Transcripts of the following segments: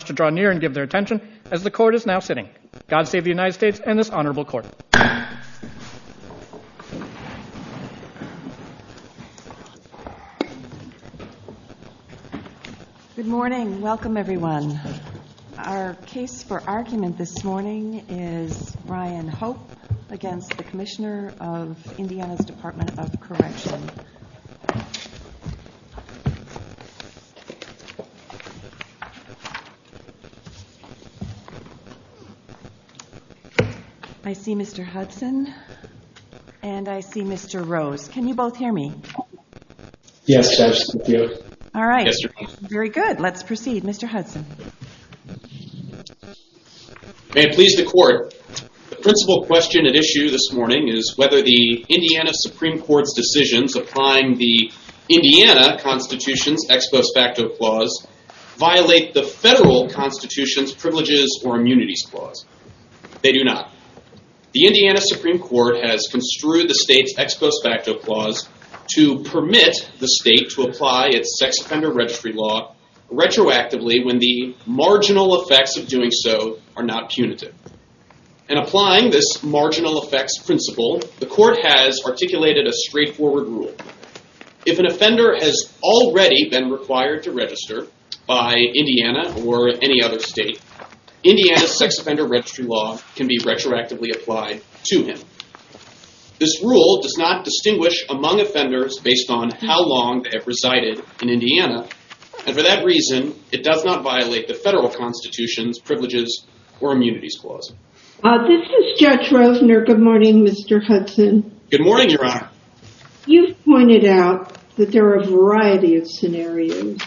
to draw near and give their attention, as the court is now sitting. God save the United States and this honorable court. Good morning. Welcome, everyone. Our case for argument this morning is Ryan Hope v. Commissioner of Indiana's Department of Correction. I see Mr. Hudson and I see Mr. Rose. Can you both hear me? Yes, Judge. All right. Very good. Let's proceed. Mr. Hudson. May it please the court, the principal question at issue this morning is whether the Indiana Supreme Court's decisions applying the Indiana Constitution's ex post facto clause violate the federal Constitution's privileges or immunities clause. They do not. The Indiana Supreme Court has construed the state's ex post facto clause to permit the state to apply its sex offender registry law retroactively when the marginal effects of doing so are not punitive. And applying this marginal effects principle, the court has articulated a straightforward rule. If an offender has already been required to register by Indiana or any other state, Indiana's sex offender registry law can be retroactively applied to him. This rule does not distinguish among offenders based on how long they have resided in Indiana. And for that reason, it does not violate the federal Constitution's Thank you, Mr. Hudson. Good morning, Your Honor. You've pointed out that there are a variety of scenarios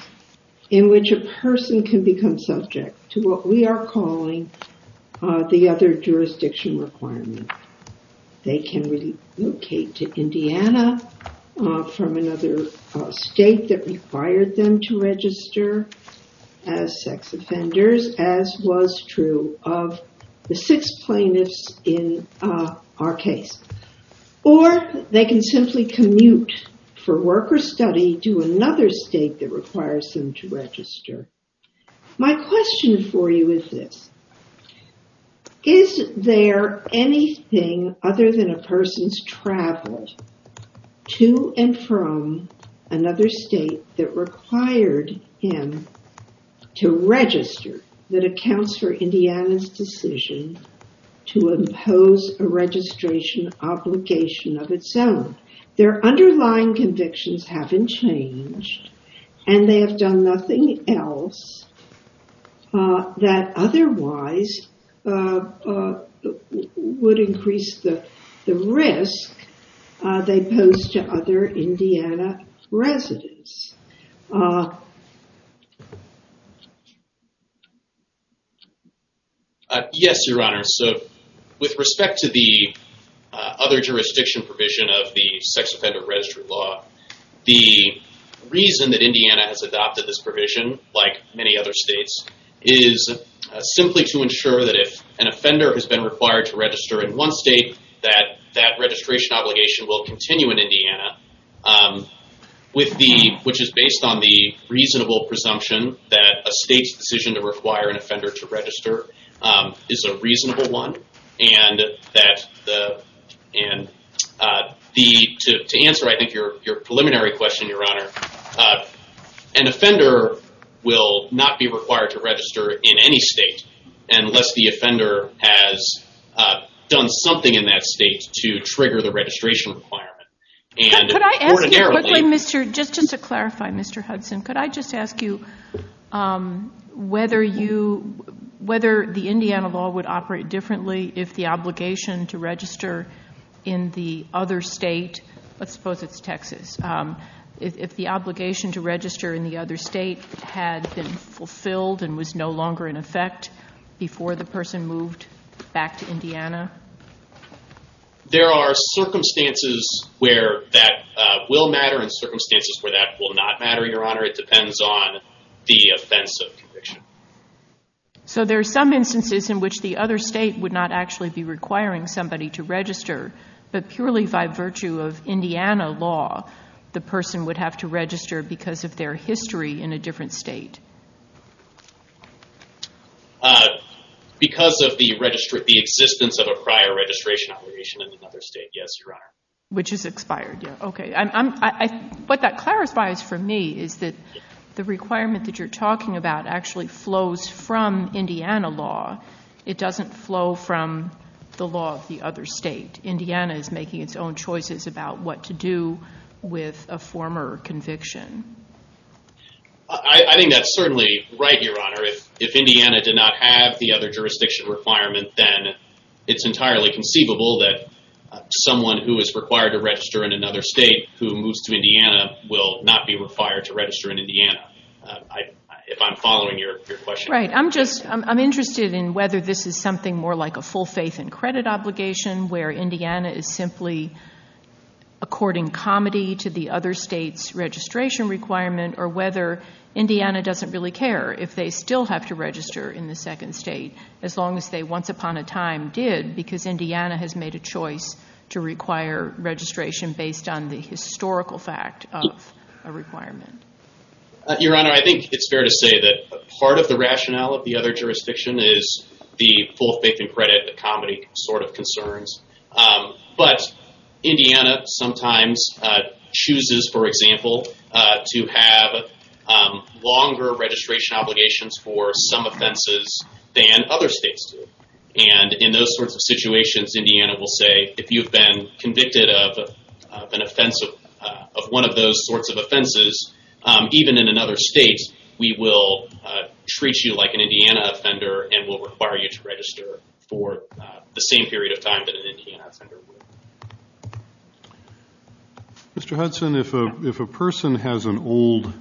in which a person can become subject to what we are calling the other jurisdiction requirement. They can relocate to Indiana from another state that required them to register as sex offenders, as was true of the six plaintiffs in our case. Or they can simply commute for work or study to another state that requires them to register. My question for you is this. Is there anything other than a person's travel to and from another state that required him to register that accounts for Indiana's decision to impose a registration obligation of its own? Their underlying convictions haven't changed and they have done nothing else that otherwise would increase the Yes, Your Honor. So with respect to the other jurisdiction provision of the sex offender registry law, the reason that Indiana has adopted this provision, like many other states, is simply to ensure that if an offender has been required to register in one state, that which is based on the reasonable presumption that a state's decision to require an offender to register is a reasonable one. To answer your preliminary question, Your Honor, an offender will not be required to register in any state unless the offender has done something in that state to clarify, Mr. Hudson, could I just ask you whether the Indiana law would operate differently if the obligation to register in the other state, let's suppose it's Texas, if the obligation to register in the other state had been fulfilled and was no longer in effect before the person moved back to Indiana? There are circumstances where that will matter and circumstances where that will not matter, Your Honor. It depends on the offense of conviction. So there are some instances in which the other state would not actually be requiring somebody to register, but purely by virtue of Indiana law, the person would have to register because of their history in a different state. Because of the existence of a prior registration obligation in another state, yes, Your Honor. Which is expired, yes. What that clarifies for me is that the requirement that you're talking about actually flows from Indiana law. It doesn't flow from the law of the other state. Indiana is making its own choices about what to do with a former conviction. I think that's certainly right, Your Honor. If Indiana did not have the other jurisdiction requirement, then it's entirely conceivable that someone who is required to register in another state who moves to Indiana will not be required to register in Indiana, if I'm following your question. Right. I'm interested in whether this is something more like a full faith and credit to bring comedy to the other state's registration requirement, or whether Indiana doesn't really care if they still have to register in the second state, as long as they once upon a time did, because Indiana has made a choice to require registration based on the historical fact of a requirement. Your Honor, I think it's fair to say that part of the rationale of the other jurisdiction is the states chooses, for example, to have longer registration obligations for some offenses than other states do. In those sorts of situations, Indiana will say, if you've been convicted of one of those sorts of offenses, even in another state, we will treat you like an Indiana offender and will require you to register for the same period of time that an Indiana offender would. Mr. Hudson, if a person has an old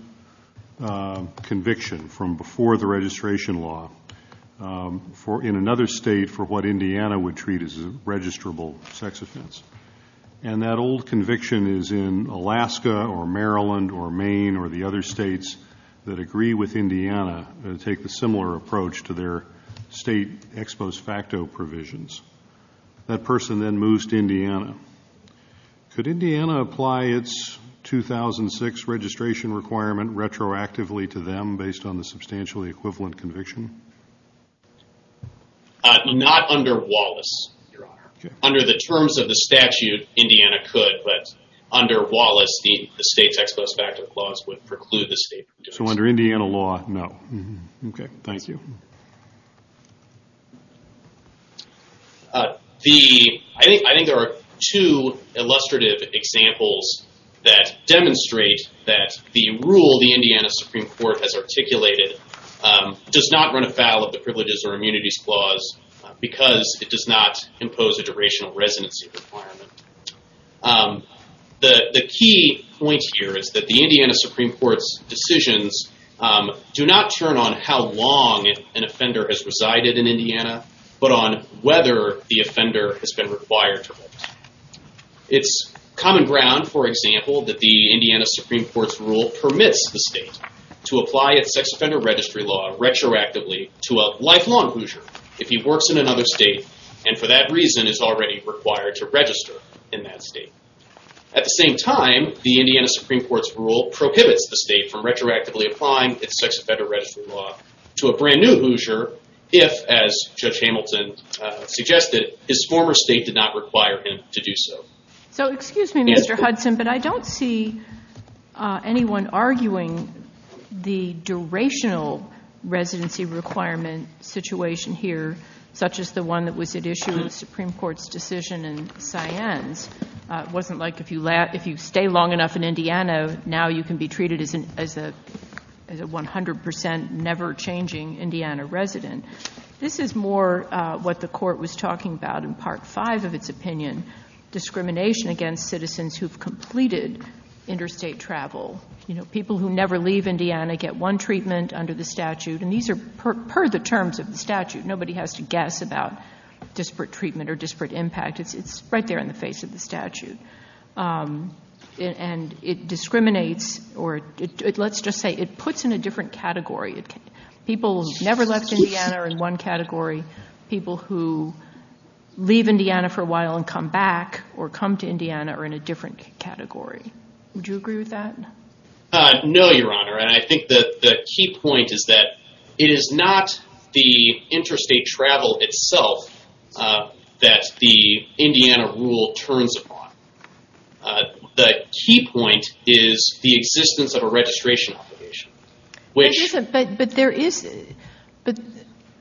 conviction from before the registration law in another state for what Indiana would treat as a registrable sex offense, and that old conviction is in Alaska or Maryland or Maine or the other states that have ex post facto provisions, that person then moves to Indiana, could Indiana apply its 2006 registration requirement retroactively to them based on the substantially equivalent conviction? Not under Wallace, Your Honor. Under the terms of the statute, Indiana could, but under Wallace, the state's ex post facto clause would preclude the state from doing so. So under Indiana law, no. Okay, thank you. I think there are two illustrative examples that demonstrate that the rule the Indiana Supreme Court has articulated does not run afoul of the Privileges or Immunities Clause because it does not impose a durational residency requirement. The key point here is that the Indiana Supreme Court's decisions do not turn on how long an offender has resided in Indiana, but on whether the offender has been required to work. It's common ground, for example, that the Indiana Supreme Court's rule permits the state to apply its sex offender registry law retroactively to a lifelong Hoosier if he works in another state and for that reason is already required to register in that state. At the same time, the Indiana Supreme Court's rule prohibits the state from retroactively applying its sex offender registry law to a brand new Hoosier if, as Judge Hamilton suggested, his former state did not require him to do so. So excuse me, Mr. Hudson, but I don't see anyone arguing the durational residency requirement situation here, such as the one that was at issue in the Supreme Court's decision in Siennes. It wasn't like if you stay long enough in Indiana, now you can be treated as a 100 percent never-changing Indiana resident. This is more what the Court was talking about in Part 5 of its opinion, discrimination against citizens who have completed interstate travel. People who never leave Indiana get one treatment under the statute, and these are per the terms of the statute. Nobody has to guess about disparate treatment or disparate impact. It's right there in the face of the statute. And it discriminates, or let's just say it puts in a different category. People who have never left Indiana are in one category. People who leave Indiana for a while and come back or come to Indiana are in a different category. Would you agree with that? No, Your Honor, and I think that the key point is that it is not the interstate travel itself that the Indiana rule turns upon. The key point is the existence of a registration obligation. But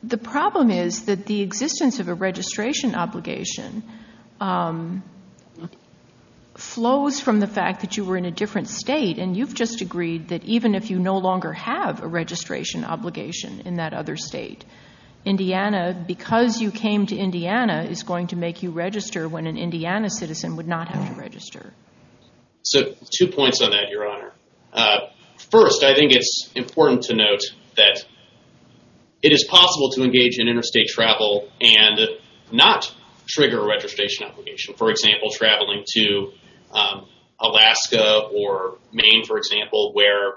the problem is that the existence of a registration obligation flows from the fact that you were in a different state, and you've just agreed that even if you no longer have a registration obligation in that other state, Indiana, because you came to Indiana, is going to make you register when an Indiana citizen would not have to register. So two points on that, Your Honor. First, I think it's important to note that it is possible to engage in interstate travel and not trigger a registration obligation. For example, traveling to Alaska or Maine, for example, where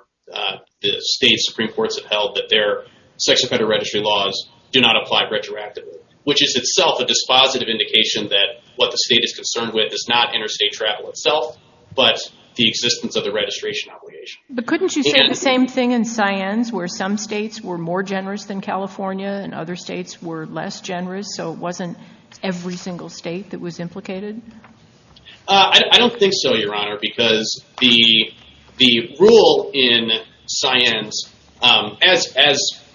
the state's Supreme Courts have held that their sex offender registry laws do not apply retroactively, which is itself a dispositive indication that what the state is concerned with is not interstate travel itself, but the existence of the registration obligation. But couldn't you say the same thing in Ceyennes, where some states were more generous than California and other states were less generous, so it wasn't every single state that was implicated? I don't think so, Your Honor, because the rule in Ceyennes, as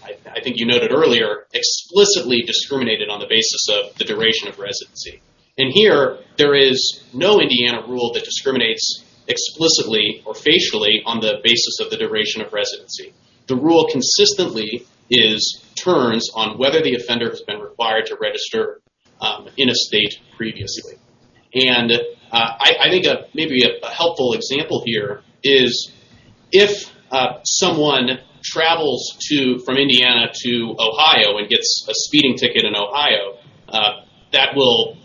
I think you noted earlier, explicitly discriminated on the basis of the duration of residency. And here, there is no Indiana rule that discriminates explicitly or facially on the basis of the duration of residency. The rule consistently turns on whether the offender has been required to register in a state previously. And I think maybe a helpful example here is if someone travels from Indiana to Ohio and gets a speeding ticket in Ohio, that will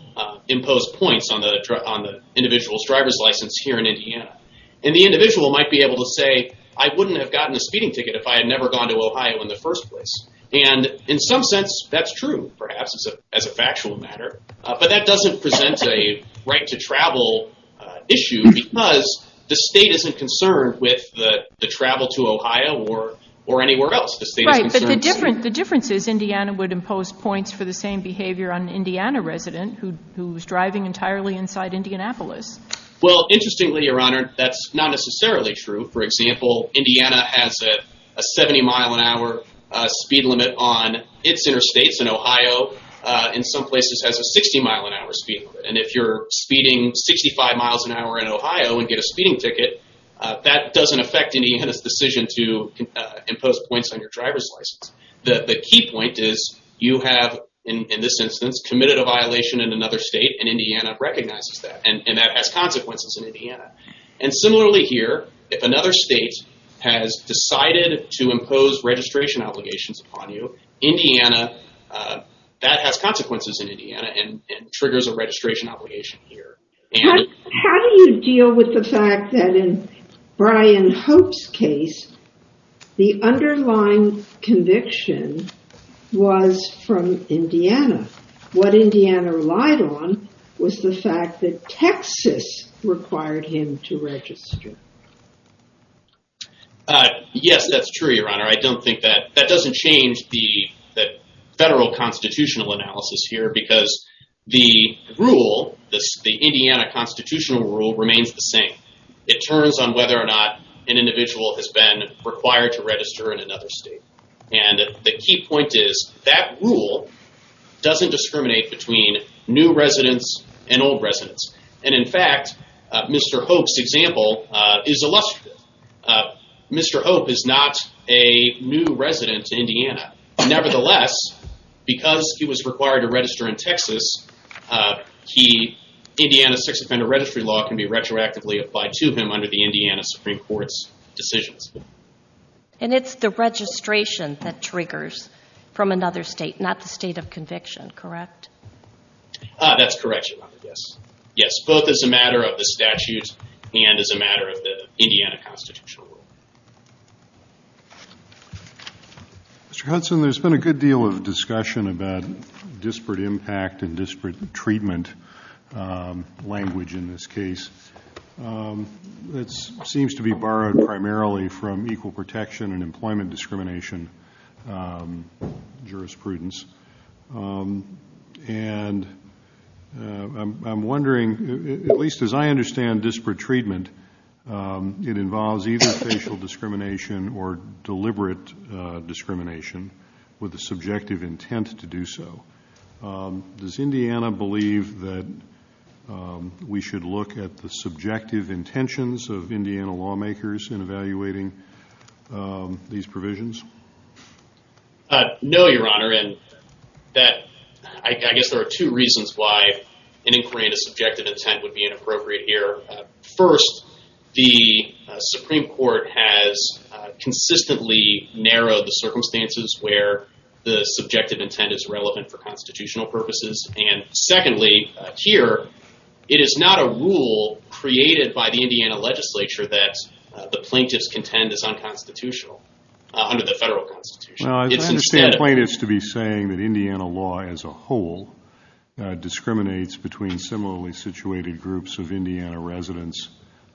impose points on the individual's driver's license here in Indiana. And the individual might be able to say, I wouldn't have gotten a speeding ticket if I had never gone to Ohio in the first place. And in some sense, that's true, perhaps, as a factual matter. But that doesn't present a right-to-travel issue because the state isn't concerned with the travel to Ohio or anywhere else. Right, but the difference is Indiana would impose points for the same behavior on an Indiana resident who's driving entirely inside Indianapolis. Well, interestingly, Your Honor, that's not necessarily true. For example, Indiana has a 70-mile-an-hour speed limit on its interstates in Ohio. In some places, it has a 60-mile-an-hour speed limit. And if you're speeding 65 miles an hour in Ohio and get a speeding ticket, that doesn't affect Indiana's decision to impose points on your driver's license. The key point is you have, in this instance, committed a violation in another state, and Indiana recognizes that. And that has consequences in Indiana. And similarly here, if another state has decided to impose registration obligations upon you, that has consequences in Indiana and triggers a registration obligation here. How do you deal with the fact that in Brian Hope's case, the underlying conviction was from Indiana? What Indiana relied on was the fact that Texas required him to register. Yes, that's true, Your Honor. I don't think that, that doesn't change the federal constitutional analysis here, because the rule, the Indiana constitutional rule remains the same. It turns on whether or not an individual has been required to register in another state. And the key point is that rule doesn't discriminate between new residents and old residents. And in fact, Mr. Hope's example is illustrative. Mr. Hope is not a new resident in Indiana. Nevertheless, because he was a new resident, the law can be retroactively applied to him under the Indiana Supreme Court's decisions. And it's the registration that triggers from another state, not the state of conviction, correct? That's correct, Your Honor, yes. Yes, both as a matter of the statute and as a matter of the Indiana constitutional rule. Mr. Hudson, there's been a good deal of discussion about this case. It seems to be borrowed primarily from equal protection and employment discrimination jurisprudence. And I'm wondering, at least as I understand disparate treatment, it involves either facial discrimination or deliberate discrimination with the subjective intent to do so. Does Indiana believe that we should look at the subjective intentions of Indiana lawmakers in evaluating these provisions? No, Your Honor, and that I guess there are two reasons why an inquiry into subjective intent would be inappropriate here. First, the Supreme Court has consistently narrowed the circumstances where the subjective intent is relevant for constitutional purposes. And secondly, here, it is not a rule created by the Indiana legislature that the plaintiffs contend is unconstitutional under the federal constitution. I understand plaintiffs to be saying that Indiana law as a whole discriminates between similarly situated groups of Indiana residents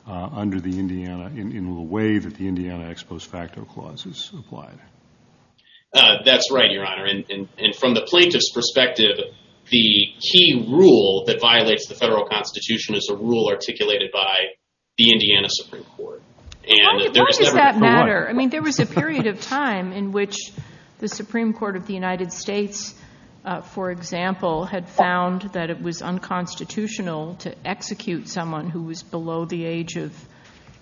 under the Indiana, in the way that the Indiana Ex Post Facto Clause is applied. That's right, Your Honor. And from the plaintiff's perspective, the key rule that violates the federal constitution is a rule articulated by the Indiana Supreme Court. Why does that matter? I mean, there was a period of time in which the Supreme Court of the United States, for example, had found that it was unconstitutional to execute someone who was below the age of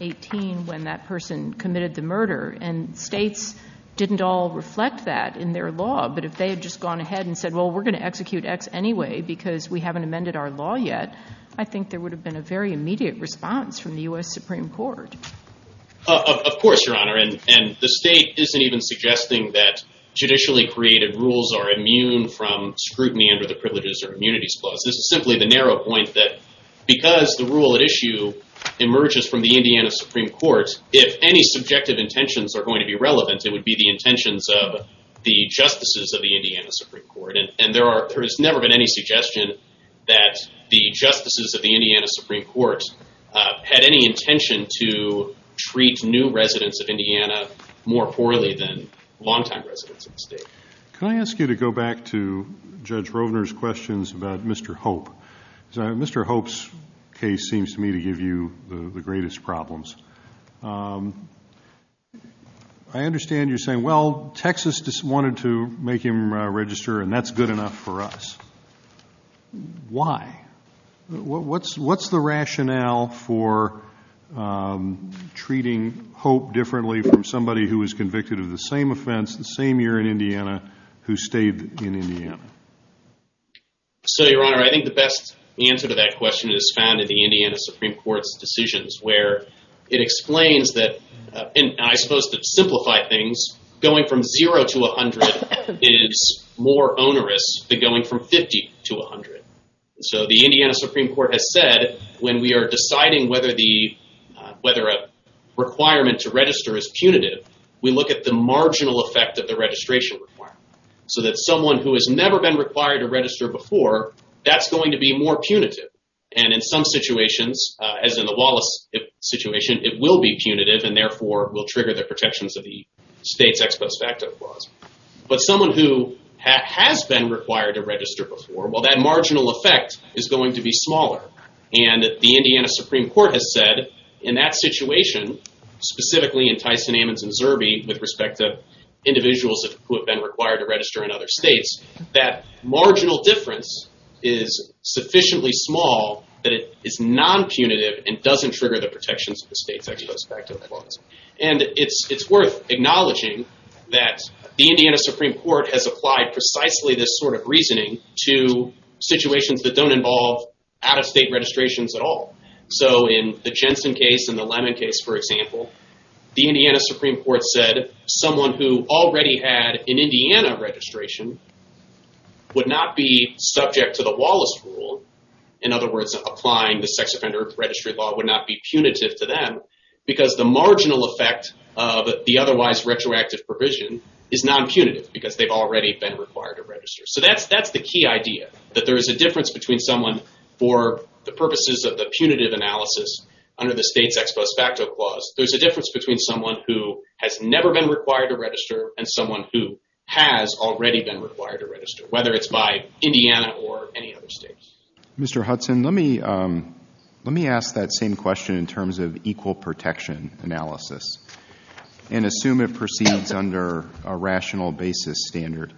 18 when that person committed the murder. And states didn't all reflect that in their law. But if they had just gone ahead and said, well, we're going to execute X anyway because we haven't amended our law yet, I think there would have been a very immediate response from the U.S. Supreme Court. Of course, Your Honor. And the state isn't even suggesting that judicially created rules are immune from scrutiny under the Privileges or Immunities Clause. This is simply the narrow point that because the rule at issue emerges from the Indiana Supreme Court, if any subjective intentions are going to be relevant, it would be the intentions of the justices of the Indiana Supreme Court. And there has never been any suggestion that the justices of the Indiana Supreme Court had any intention to treat new residents of Indiana more poorly than longtime residents of the state. Can I ask you to go back to Judge Rovner's questions about Mr. Hope? Mr. Hope's case seems to me to give you the greatest problems. I understand you're saying, well, Texas just wanted to make him register and that's good enough for now for treating Hope differently from somebody who was convicted of the same offense the same year in Indiana who stayed in Indiana. So, Your Honor, I think the best answer to that question is found in the Indiana Supreme Court's decisions where it explains that, and I suppose to simplify things, going from 0 to 100 is more onerous than going from 50 to 100. So the Indiana Supreme Court has said when we are deciding whether a requirement to register is punitive, we look at the marginal effect of the registration requirement. So that someone who has never been required to register before, that's going to be more punitive. And in some situations, as in the Wallace situation, it will be punitive and therefore will trigger the protections of the state's ex post facto clause. But someone who has been required to register before, well, that marginal effect is going to be smaller. And the Indiana Supreme Court has said in that situation, specifically in Tyson, Ammons, and Zerbe, with respect to individuals who have been required to register in other states, that marginal difference is sufficiently small that it is non-punitive and it's worth acknowledging that the Indiana Supreme Court has applied precisely this sort of reasoning to situations that don't involve out-of-state registrations at all. So in the Jensen case and the Lemon case, for example, the Indiana Supreme Court said someone who already had an Indiana registration would not be subject to the Wallace rule. In other words, applying the ex post facto clause to someone who has never been required to register, regardless of the otherwise retroactive provision, is non-punitive because they've already been required to register. So that's the key idea, that there is a difference between someone for the purposes of the punitive analysis under the state's ex post facto clause. There's a difference between someone who has never been required to register and someone who has already been required to register, whether it's by Indiana or any other state. Mr. Hudson, let me ask that same question in terms of equal protection analysis and assume it proceeds under a rational basis standard.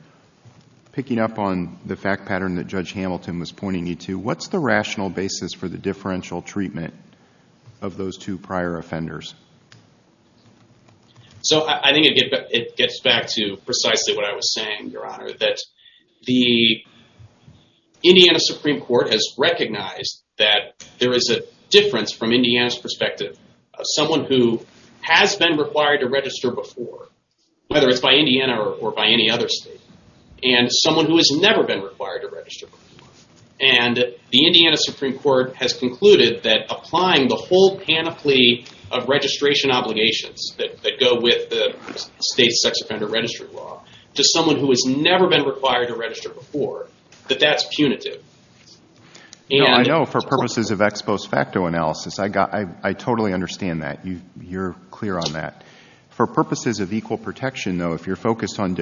Picking up on the fact pattern that Judge Hamilton was pointing you to, what's the rational basis for the differential treatment of those two prior offenders? So I think it gets back to precisely what I was saying, Your Honor, that the Indiana Supreme Court has recognized that there is a difference from Indiana's perspective of someone who has been required to register before, whether it's by Indiana or by any other state, and someone who has never been required to register before. And the Indiana Supreme Court has concluded that applying the whole panoply of registration obligations that go with the state's sex offender registry law to someone who has never been required to register before, that that's punitive. I know for purposes of ex post facto analysis, I totally understand that. You're clear on that. For purposes of equal protection though, if you're focused on a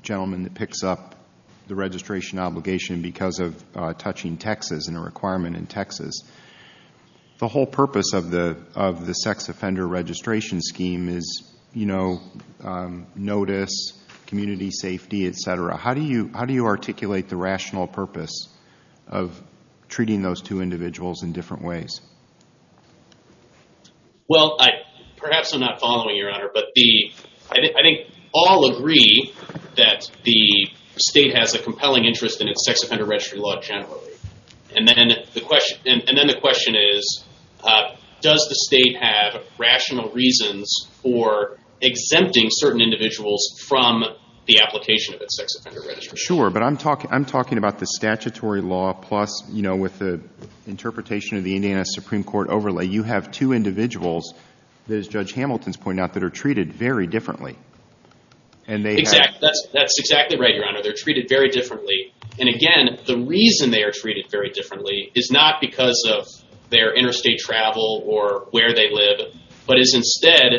gentleman that picks up the registration obligation because of touching taxes and a requirement in Texas, the whole purpose of the sex offender registration scheme is notice, community safety, etc. How do you articulate the rational purpose of treating those two individuals in different ways? Well, perhaps I'm not following, Your Honor, but I think all agree that the state has a compelling interest in its sex offender registry law generally. And then the question is, does the state have rational reasons for exempting certain individuals from the application of its sex offender registry law? Sure. But I'm talking about the statutory law plus, you know, with the interpretation of the Indiana Supreme Court overlay, you have two individuals, as Judge Hamilton's pointed out, that are treated very differently. And again, the reason they are treated very differently is not because of their interstate travel or where they live, but is instead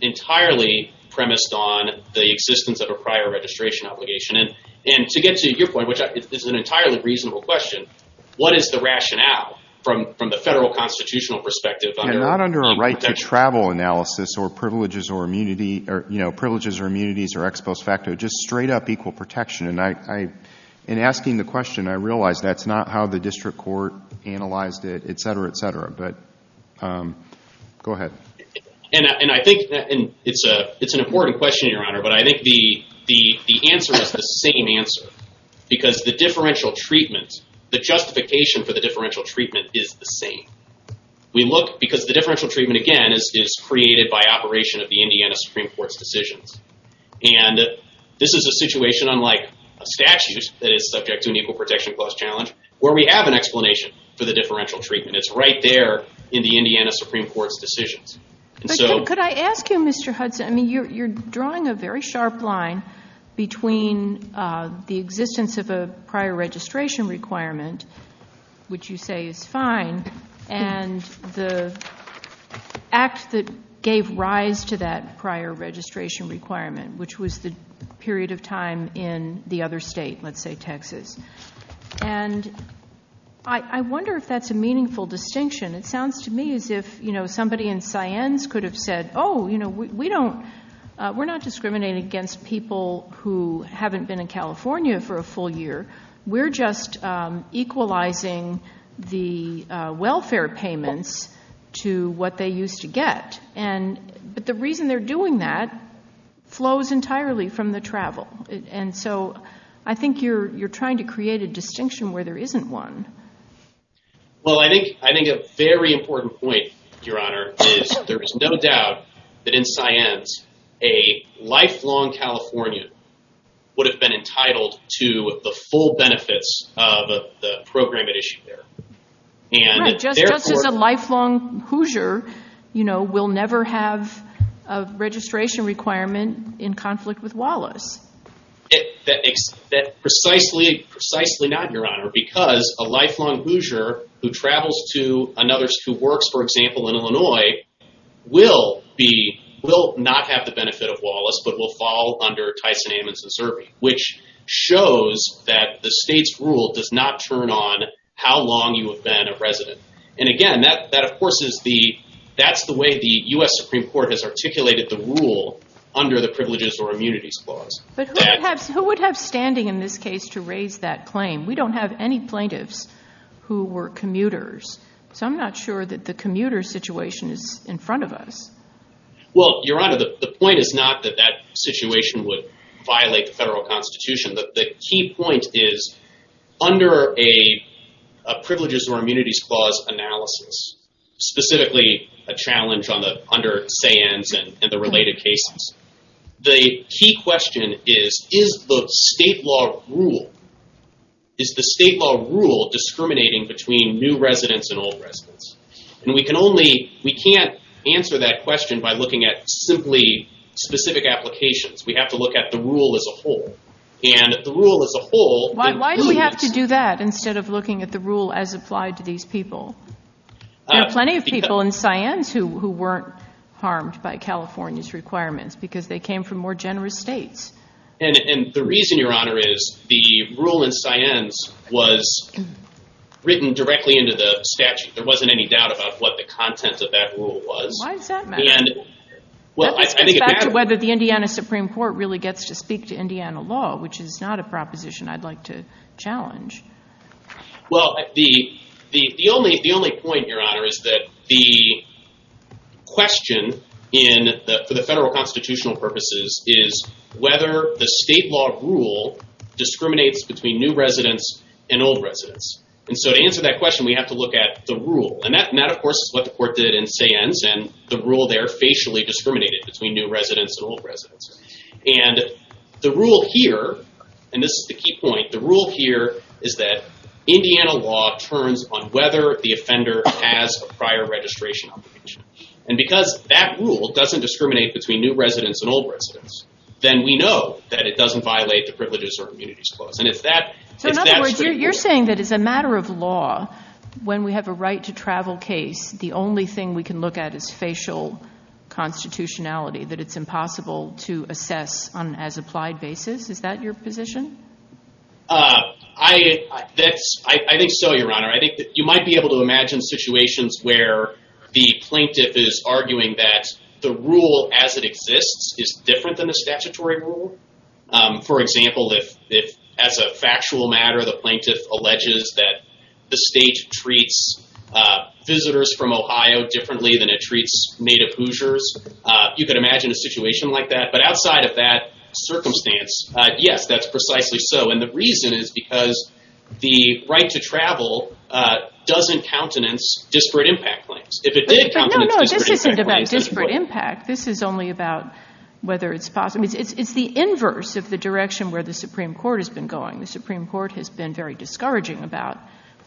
entirely premised on the existence of a prior registration obligation. And to get to your point, which is an entirely reasonable question, what is the rationale from the federal constitutional perspective? Not under a right to travel analysis or privileges or immunities or ex post facto, just straight up equal protection. And in asking the question, I realize that's not how the district court analyzed it, but I think it's an important question, Your Honor. But I think the answer is the same answer, because the differential treatment, the justification for the differential treatment is the same. We look because the differential treatment, again, is created by operation of the Indiana Supreme Court's decisions. And this is a situation unlike a statute that is subject to an equal protection clause challenge where we have an explanation for the differential treatment. It's right there in the Indiana Supreme Court's decisions. You're drawing a very sharp line between the existence of a prior registration requirement, which you say is fine, and the act that gave rise to that prior registration requirement, which was the period of time in the other state, let's say Texas. And I wonder if that's a meaningful distinction. It sounds to me as if somebody in Cyennes could have said, oh, we're not discriminating against people who haven't been in California for a full year. We're just equalizing the welfare payments to what they used to get. But the reason they're doing that flows entirely from the travel. And so I think you're trying to create a distinction where there isn't one. Well, I think a very important point, Your Honor, is there is no doubt that in Cyennes, a lifelong Californian would have been entitled to the full benefits of the program at issue there. Just as a lifelong Hoosier will never have a registration requirement in conflict with Wallace. Precisely not, Your Honor, because a lifelong Hoosier who travels to another state, who works, for example, in Illinois, will not have the benefit of Wallace, but will fall under Tyson, Ammons, and Serby, which shows that the state's rule does not turn on how long you have been a resident. And again, that, of course, is the way the U.S. Supreme Court has articulated the rule under the Privileges or Immunities Clause. Who would have standing in this case to raise that claim? We don't have any plaintiffs who were commuters. So I'm not sure that the commuter situation is in front of us. Well, Your Honor, the point is not that that situation would violate the federal Constitution. The key point is under a Privileges or Immunities Clause analysis, specifically a challenge under Cyennes and the related cases, the key question is, is the state law rule, is the state law rule discriminating between new residents and old residents? And we can only, we can't answer that question by looking at simply specific applications. We have to look at the rule as a whole. And the rule as a whole... Why do we have to do that instead of looking at the rule as applied to these people? There are plenty of people in Cyennes who weren't harmed by California's requirements because they came from more generous states. And the reason, Your Honor, is the rule in Cyennes was written directly into the statute. There wasn't any doubt about what the content of that rule was. Why does that matter? It's back to whether the Indiana Supreme Court really gets to speak to Indiana law, which is not a proposition I'd like to challenge. Well, the only point, Your Honor, is that the question for the federal constitutional purposes is whether the state law rule discriminates between new residents and old residents. And so to answer that question, we have to look at the rule. And that, of course, is what the court did in Cyennes. And the rule there facially discriminated between new residents and old residents. And the rule here, and this is the key point, the rule here is that Indiana law turns on whether the offender has a prior registration obligation. And because that rule doesn't discriminate between new residents and old residents, then we know that it doesn't violate the Privileges or Immunities Clause. So in other words, you're saying that as a matter of law, when we have a right to travel case, the only thing we can look at is facial constitutionality, that it's impossible to assess on an as-applied basis? Is that your You might be able to imagine situations where the plaintiff is arguing that the rule as it exists is different than the statutory rule. For example, if as a factual matter, the plaintiff alleges that the state treats visitors from Ohio differently than it treats native Hoosiers, you could imagine a situation like that. But outside of that circumstance, yes, that's precisely so. And the reason is because the right to travel doesn't countenance disparate impact claims. If it did countenance disparate impact claims. This isn't about disparate impact. This is only about whether it's possible. It's the inverse of the direction where the Supreme Court has been going. The Supreme Court has been very discouraging about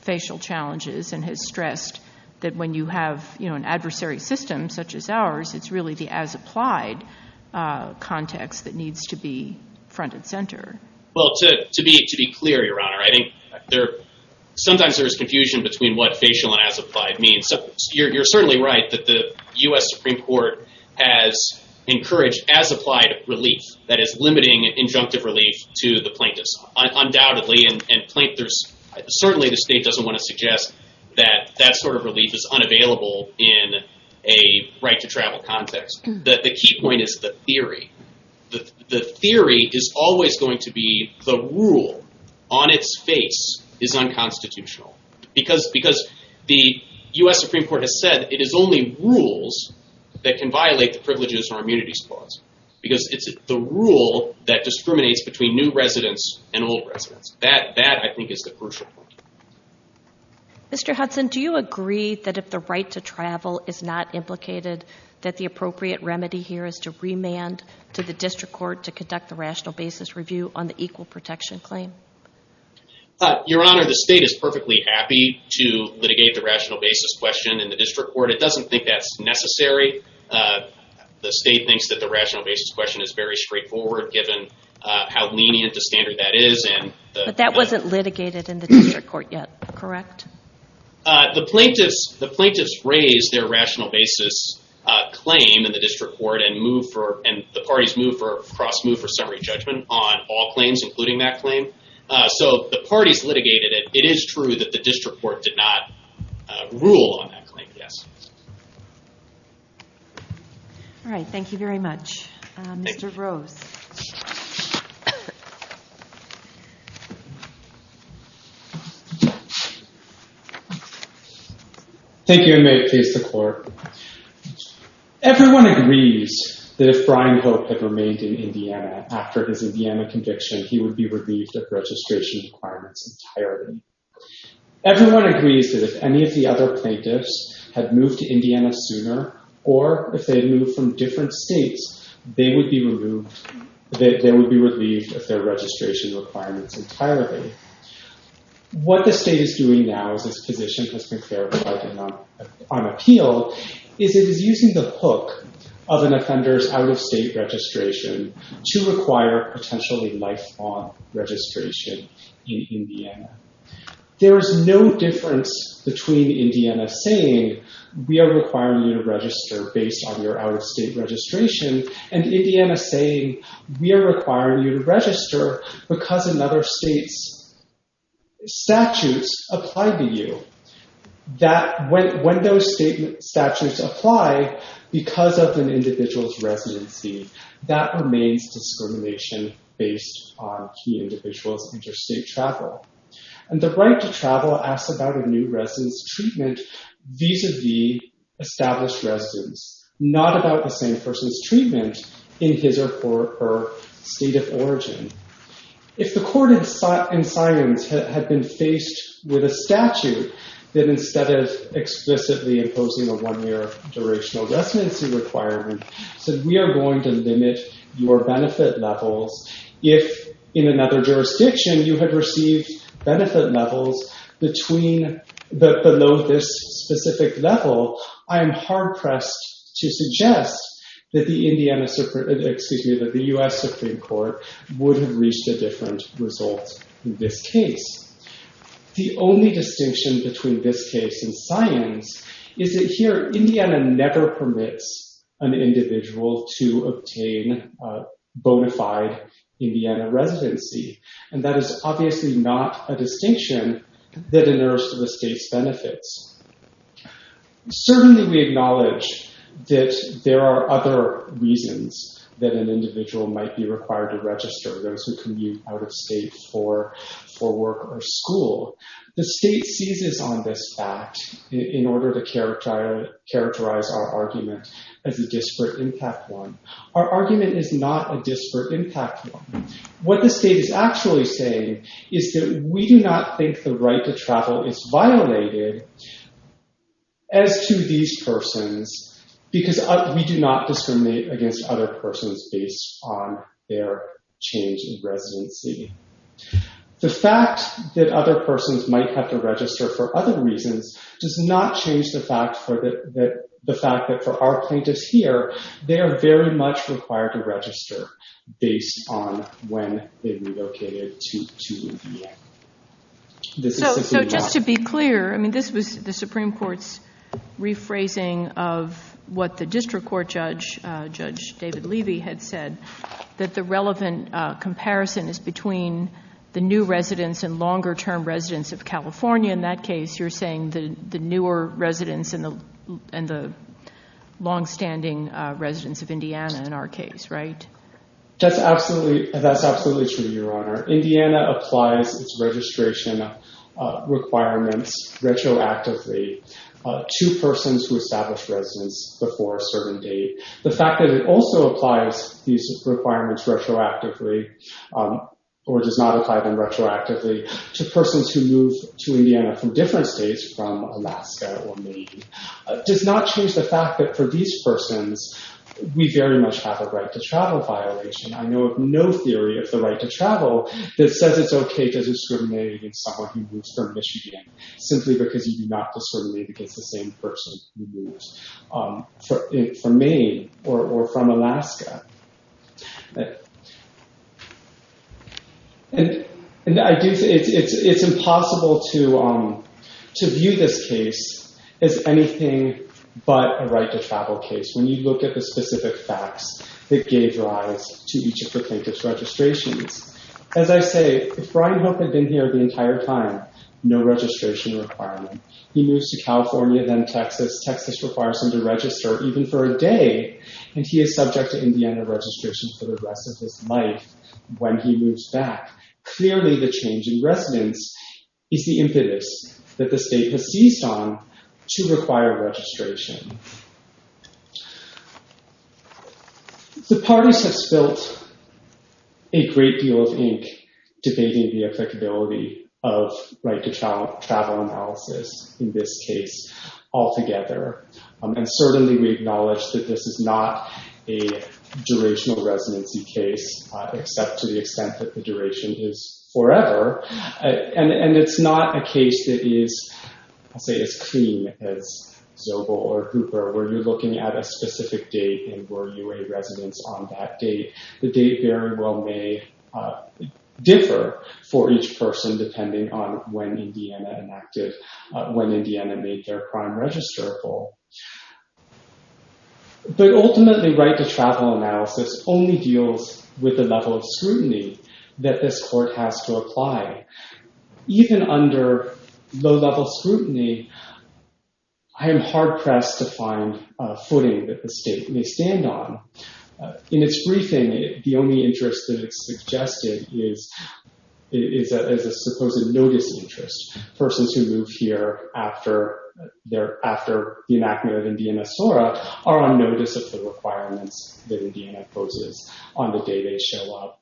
facial challenges and has stressed that when you have an adversary system such as ours, it's really the as-applied context that needs to be front and center. Well, to be clear, Your Honor, I think sometimes there's confusion between what facial and as-applied means. You're certainly right that the U.S. Supreme Court has encouraged as-applied relief, that is limiting injunctive relief to the plaintiffs, undoubtedly. And certainly the state doesn't want to suggest that that sort of relief is unavailable in a right to travel context. The key point is the theory. The theory is always going to be the rule on its face is unconstitutional because the U.S. Supreme Court has said it is only rules that can violate the privileges or immunities clause because it's the rule that discriminates between new and old residents. That, I think, is the crucial point. Mr. Hudson, do you agree that if the right to travel is not implicated that the appropriate remedy here is to remand to the district court to conduct the rational basis review on the equal protection claim? Your Honor, the state is perfectly happy to litigate the rational basis question in the district court. It doesn't think that's necessary. The state thinks that the rational basis question is very straightforward given how lenient a standard that is. But that wasn't litigated in the district court yet, correct? The plaintiffs raised their rational basis claim in the district court and the parties moved for a cross move for summary judgment on all claims, including that claim. So the parties litigated it. It is true that the district court did not rule on that claim, yes. All right. Thank you very much. Mr. Rose. Thank you. Thank you, and may it please the Court. Everyone agrees that if Brian Hope had remained in Indiana after his Indiana conviction, he would be relieved of registration requirements entirely. Everyone agrees that if any of the other plaintiffs had moved to Indiana sooner or if they had moved from different states, they would be relieved of their registration requirements entirely. What the state is doing now as this position has been clarified on appeal is it is using the lifelong registration in Indiana. There is no difference between Indiana saying we are requiring you to register based on your out-of-state registration and Indiana saying we are requiring you to register because another state's statutes apply to you. When those statutes apply because of an out-of-state registration. The right to travel asks about a new resident's treatment vis-a-vis established residents, not about the same person's treatment in his or her state of origin. If the Court in silence had been faced with a statute that instead of explicitly imposing a non-linear durational residency requirement, said we are going to limit your benefit levels, if in another jurisdiction you had received benefit levels below this specific level, I am hard-pressed to suggest that the U.S. Supreme Court would have reached a different result in this case. The only distinction between this case and silence is that here Indiana never permits an individual to obtain bona fide Indiana residency. That is obviously not a distinction that inerts the state's benefits. Certainly we acknowledge that there are other reasons that an individual may not be eligible for a non-linear going to a school, the state seizes on this fact in order to characterize our argument as a disparate impact one. Our argument is not a disparate impact one. What the state is actually saying is that we do not think the right to travel is violated as to these persons because we do not discriminate against other persons based on their change of residency. The fact that other persons might have to register for other reasons does not change the fact that for our plaintiffs here, they are very much required to register based on when they relocated to Indiana. Just to be clear, this was the Supreme Court's rephrasing of what the district court judge, Judge David Levy, had said, that the relevant comparison is between the new residents and longer-term residents of California. In that case, you're saying the newer residents and the long-standing residents of Indiana in our case, right? That's absolutely true, Your Honor. Indiana applies its registration requirements retroactively to persons who establish residence before a certain date. The fact that it also applies these requirements retroactively or does not apply them retroactively to persons who move to Indiana from different states, from Alaska or Maine, does not change the fact that for these persons, we very much have a right to travel violation. I know of no theory of the right to travel that says it's okay to discriminate against someone who moves from Michigan simply because you do not discriminate against the same person who moves from Maine or from Alaska. It's impossible to view this case as anything but a right to travel case when you look at the specific facts that gave rise to each of the plaintiff's registrations. As I say, if Brian Hope had been here the entire time, no registration requirement. He moves to California, then Texas. Texas requires him to register even for a day, and he is subject to Indiana registration for the rest of his life when he moves back. Clearly, the change in residence is the impetus that the state has seized on to require registration. The parties have spilt a great deal of ink debating the applicability of right to travel analysis in this case altogether. Certainly, we acknowledge that this is not a durational residency case, except to the extent that the duration is forever. It's not a case that is as clean as Zobel or Hooper, where you're looking at a specific date and were you a resident on that date. The date very well may differ for each person, depending on when Indiana made their crime register full. Ultimately, right to travel analysis only deals with the level of scrutiny that this court has to apply. Even under low-level scrutiny, I am hard-pressed to find a footing that the state may stand on. In its briefing, the only interest that is suggested is a supposed notice interest. Persons who move here after the enactment of Indiana SORA are on notice of the requirements that Indiana poses on the day they show up.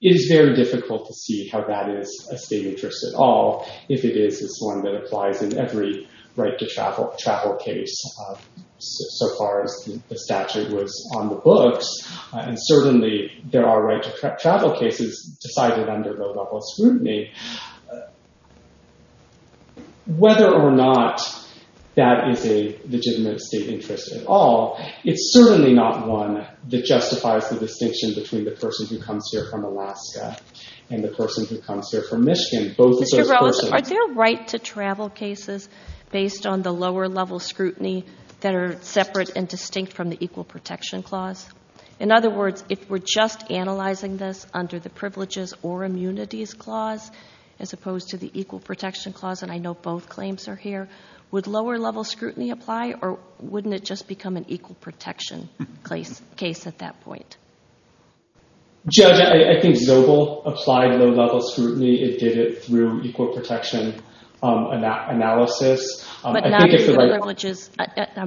It is very difficult to see how that is a state interest at all, if it is one that applies in every right to travel case so far as the statute was on the books. Certainly, there are right to travel cases decided under low-level scrutiny. Whether or not that is a legitimate state interest at all, it's certainly not one that justifies the distinction between the person who comes here from Alaska and the person who comes here from Michigan. Are there right to travel cases based on the lower-level scrutiny that are separate and distinct from the Equal Protection Clause? In other words, if we are just analyzing this under the Privileges or Immunities Clause as opposed to the Equal Protection Clause, and I know both claims are here, would lower-level scrutiny apply or wouldn't it just become an Equal Protection case at that point? Judge, I think Zobel applied low-level scrutiny. It did it through Equal Protection analysis. I'm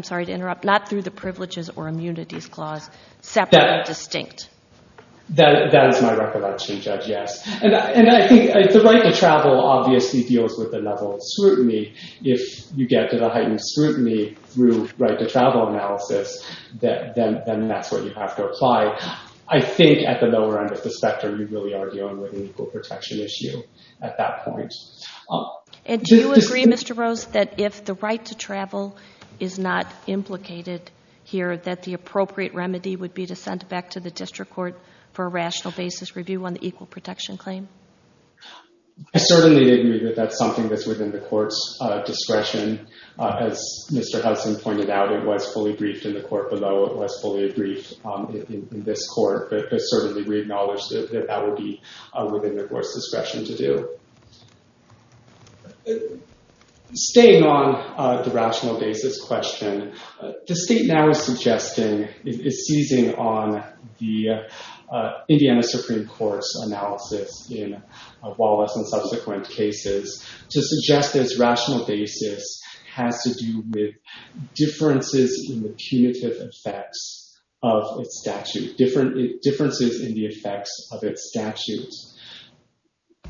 sorry to interrupt. Not through the Privileges or Immunities Clause, separate and distinct. That is my recollection, Judge, yes. And I think the right to travel obviously deals with the level of scrutiny. If you get to the heightened scrutiny through right to travel analysis, then that's what you have to apply. I think at the lower end of the spectrum, you really are dealing with an Equal Protection issue at that point. And do you agree, Mr. Rose, that if the right to travel is not implicated here, that the appropriate remedy would be to send it back to the District Court for a rational basis review on the Equal Protection claim? I certainly agree that that's something that's within the Court's discretion. As Mr. Hudson pointed out, it was fully briefed in the Court below. It was fully briefed in this Court, but certainly we acknowledge that that would be within the Court's discretion to do. Staying on the rational basis question, the State now is suggesting, is seizing on the Indiana Supreme Court's analysis in Wallace and subsequent cases to suggest this rational basis has to do with differences in the punitive effects of its statute, differences in the effects of its statute.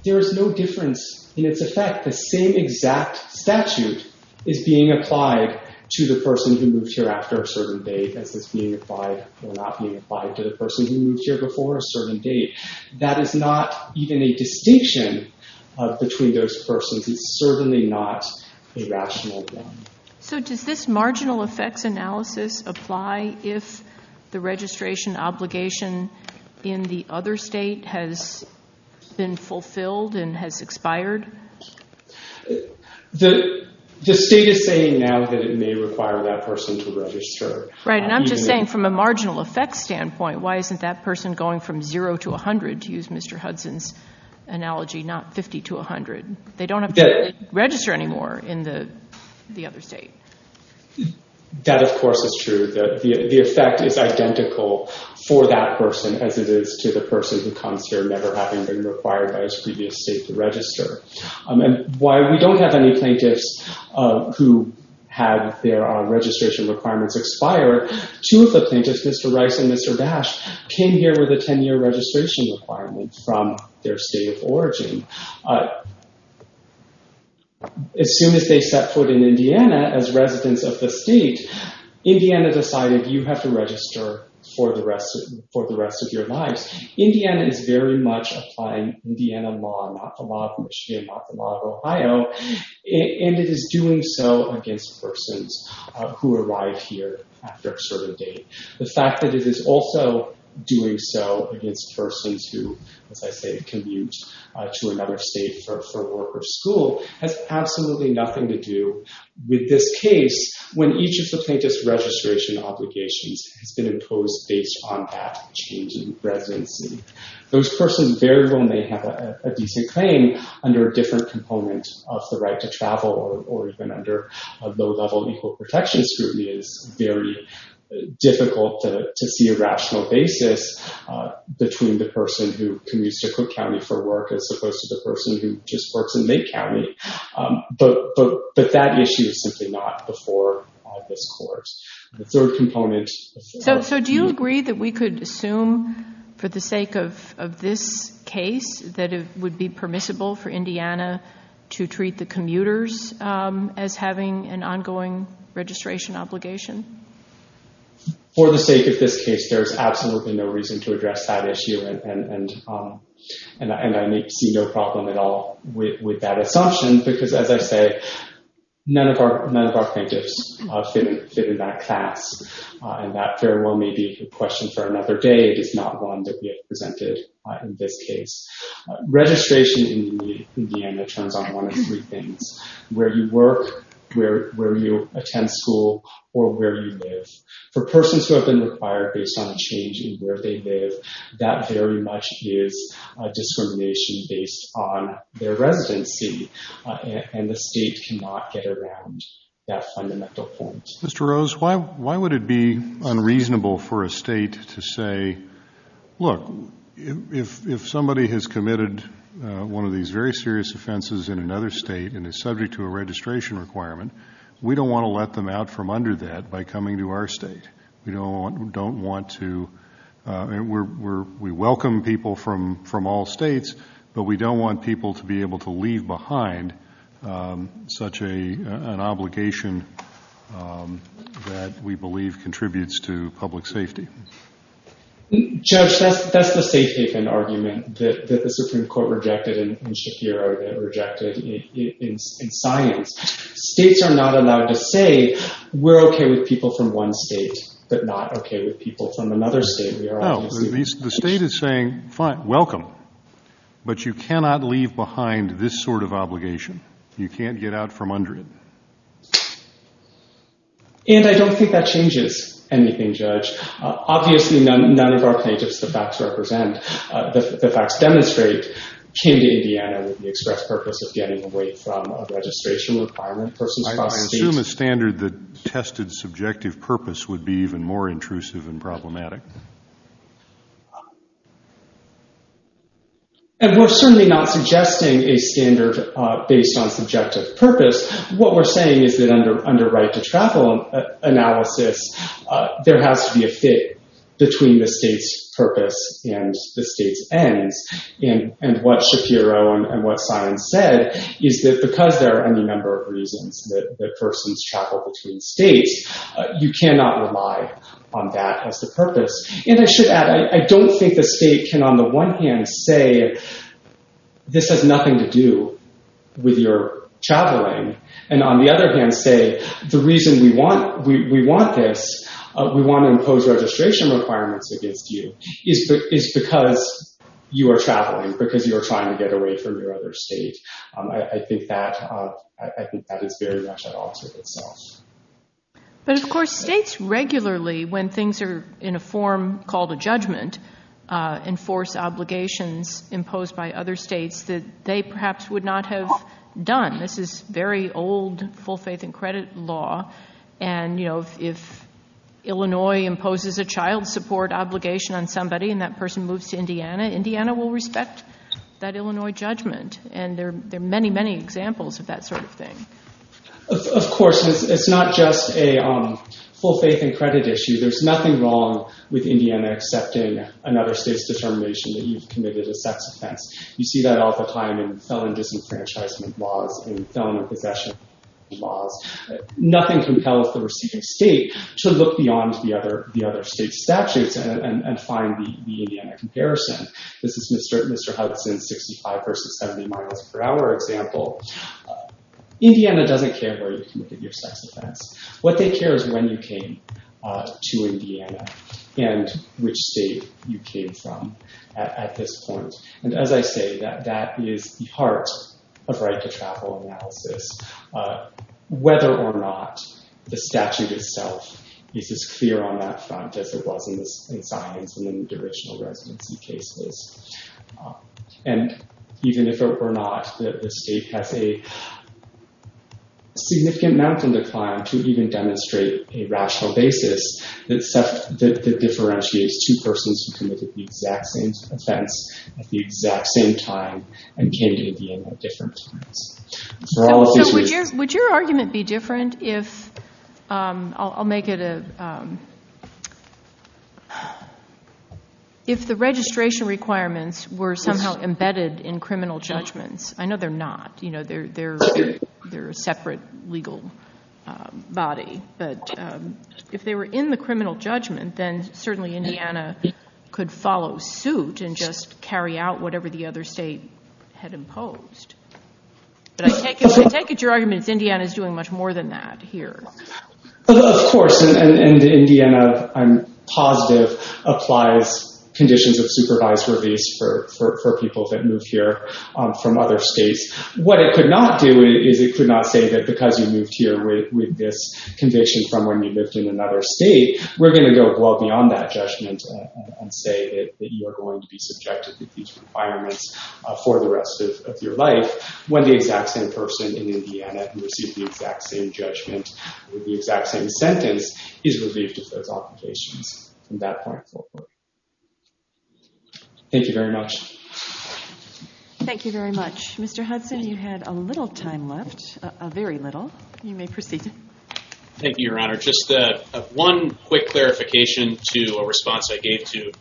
There is no difference in its effect. The same exact statute is being applied to the person who moved here after a certain date as is being applied or not being applied to the person who moved here before a certain date. That is not even a distinction between those persons. It's certainly not a rational one. So does this marginal effects analysis apply if the registration obligation in the other State has been fulfilled and has expired? The State is saying now that it may require that person to register. Right, and I'm just saying from a marginal effects standpoint, why isn't that person going from 0 to 100, to use Mr. Hudson's analogy, not 50 to 100? They don't have to register anymore in the other State. That, of course, is true. The effect is identical for that person as it is to the person who comes here never having been required by his previous State to register. And while we don't have any plaintiffs who have their registration requirements expire, two of the plaintiffs, Mr. Rice and Mr. Dash, came here with a 10-year registration requirement from their State of origin. As soon as they set foot in Indiana as residents of the State, Indiana decided you have to register for the rest of your lives. Indiana is very much applying Indiana law, not the law of Michigan, not the law of Ohio, and it is doing so against persons who arrive here after a certain date. The fact that it is also doing so against persons who, as I say, commute to another State for work or school has absolutely nothing to do with this case when each of the plaintiff's registration obligations has been imposed based on that change in residency. Those persons very well may have a decent claim under a different component of the right to travel or even under a low-level equal protection scrutiny. It is very difficult to see a rational basis between the person who commutes to Cook County for work as opposed to the person who just works in Maine County, but that issue is simply not before this Court. The third component... So do you agree that we could assume for the sake of this case that it would be permissible for Indiana to treat the commuters as having an ongoing registration obligation? For the sake of this case, there is absolutely no reason to address that issue, and I see no problem at all with that assumption because, as I say, none of our plaintiffs fit in that class, and that very well may be a question for another day. It is not one that we have presented in this case. Registration in Indiana turns on one of three things. Where you work, where you attend school, or where you live. For persons who have been required based on a change in where they live, that very much is discrimination based on their residency, and the state cannot get around that fundamental point. Mr. Rose, why would it be unreasonable for a state to say, look, if somebody has committed one of these very serious offenses in another state and is subject to a registration requirement, we don't want to let them out from under that by coming to our state. We don't want to... We welcome people from all states, but we don't want people to be able to leave behind such an obligation that we believe contributes to public safety. Judge, that's the safe haven argument that the Supreme Court rejected and Shakir rejected in science. States are not allowed to say, we're okay with people from one state, but not okay with people from another state. The state is saying, fine, welcome, but you cannot leave behind this sort of obligation. You can't get out from under it. And I don't think that changes anything, Judge. Obviously, none of our plaintiffs, the facts demonstrate, came to Indiana with the express purpose of getting away from a registration requirement. I assume a standard that tested subjective purpose would be even more intrusive and problematic. And we're certainly not suggesting a standard based on subjective purpose. What we're saying is that under right to travel analysis, there has to be a fit between the state's purpose and the state's ends. And what Shapiro and what science said is that because there are any number of reasons that persons travel between states, you cannot rely on that as the purpose. And I should add, I don't think the state can, on the one hand, say this has nothing to do with your traveling. And on the other hand, say the reason we want this, we want to impose registration requirements against you, is because you are traveling, because you are trying to get away from your other state. I think that is very much at odds with itself. But of course, states regularly, when things are in a form called a judgment, enforce obligations imposed by other states that they perhaps would not have done. This is very old full faith in credit law. And if Illinois imposes a child support obligation on somebody and that person moves to Indiana, Indiana will respect that Illinois judgment. And there are many, many examples of that sort of thing. Of course, it's not just a full faith in credit issue. There's nothing wrong with Indiana accepting another state's determination that you've committed a sex offense. You see that all the time in felon disenfranchisement laws, in felon possession laws. Nothing compels the receiving state to look beyond the other state's statutes and find the Indiana comparison. This is Mr. Hudson's 65 versus 70 miles per hour example. Indiana doesn't care where you committed your sex offense. What they care is when you came to Indiana and which state you came from at this point. And as I say, that is the heart of right to travel analysis. Whether or not the statute itself is as clear on that front as it was in science and in the original residency cases. And even if it were not, the state has a significant amount of decline to even demonstrate a rational basis that differentiates two persons who committed the exact same offense at the exact same time and came to Indiana at different times. Would your argument be different if the registration requirements were somehow embedded in criminal judgments? I know they're not. They're a separate legal body. But if they were in the criminal judgment, then certainly Indiana could follow suit and just carry out whatever the other state had imposed. But I take it your argument is Indiana is doing much more than that here. Of course. And Indiana, I'm positive, applies conditions of supervised release for people that move here from other states. What it could not do is it could not say that because you moved here with this conviction from when you lived in another state, we're going to go well beyond that judgment and say that you are going to be subjected to these requirements for the rest of your life when the exact same person in Indiana who received the exact same judgment with the exact same sentence is relieved of those obligations from that point forward. Thank you very much. Thank you very much. Mr. Hudson, you had a little time left. Very little. You may proceed. Thank you, Your Honor. Just one quick clarification to a response I gave to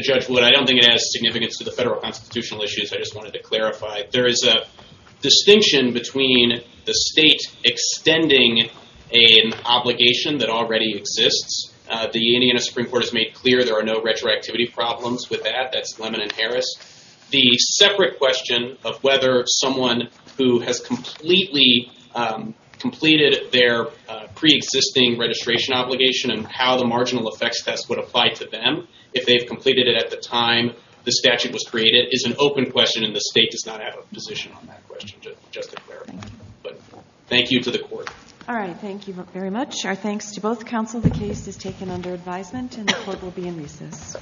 Judge Wood. I don't think it has significance to the federal constitutional issues. I just wanted to clarify. There is a distinction between the state extending an obligation that already exists. The Indiana Supreme Court has made clear there are no retroactivity problems with that. That's Lemon and Harris. The separate question of whether someone who has completely completed their preexisting registration obligation and how the marginal effects test would apply to them if they've completed it at the time the statute was created is an open question and the state does not have a position on that question, just to clarify. Thank you to the court. Thank you very much. Our thanks to both counsel. The case is taken under advisement and the court will be in recess.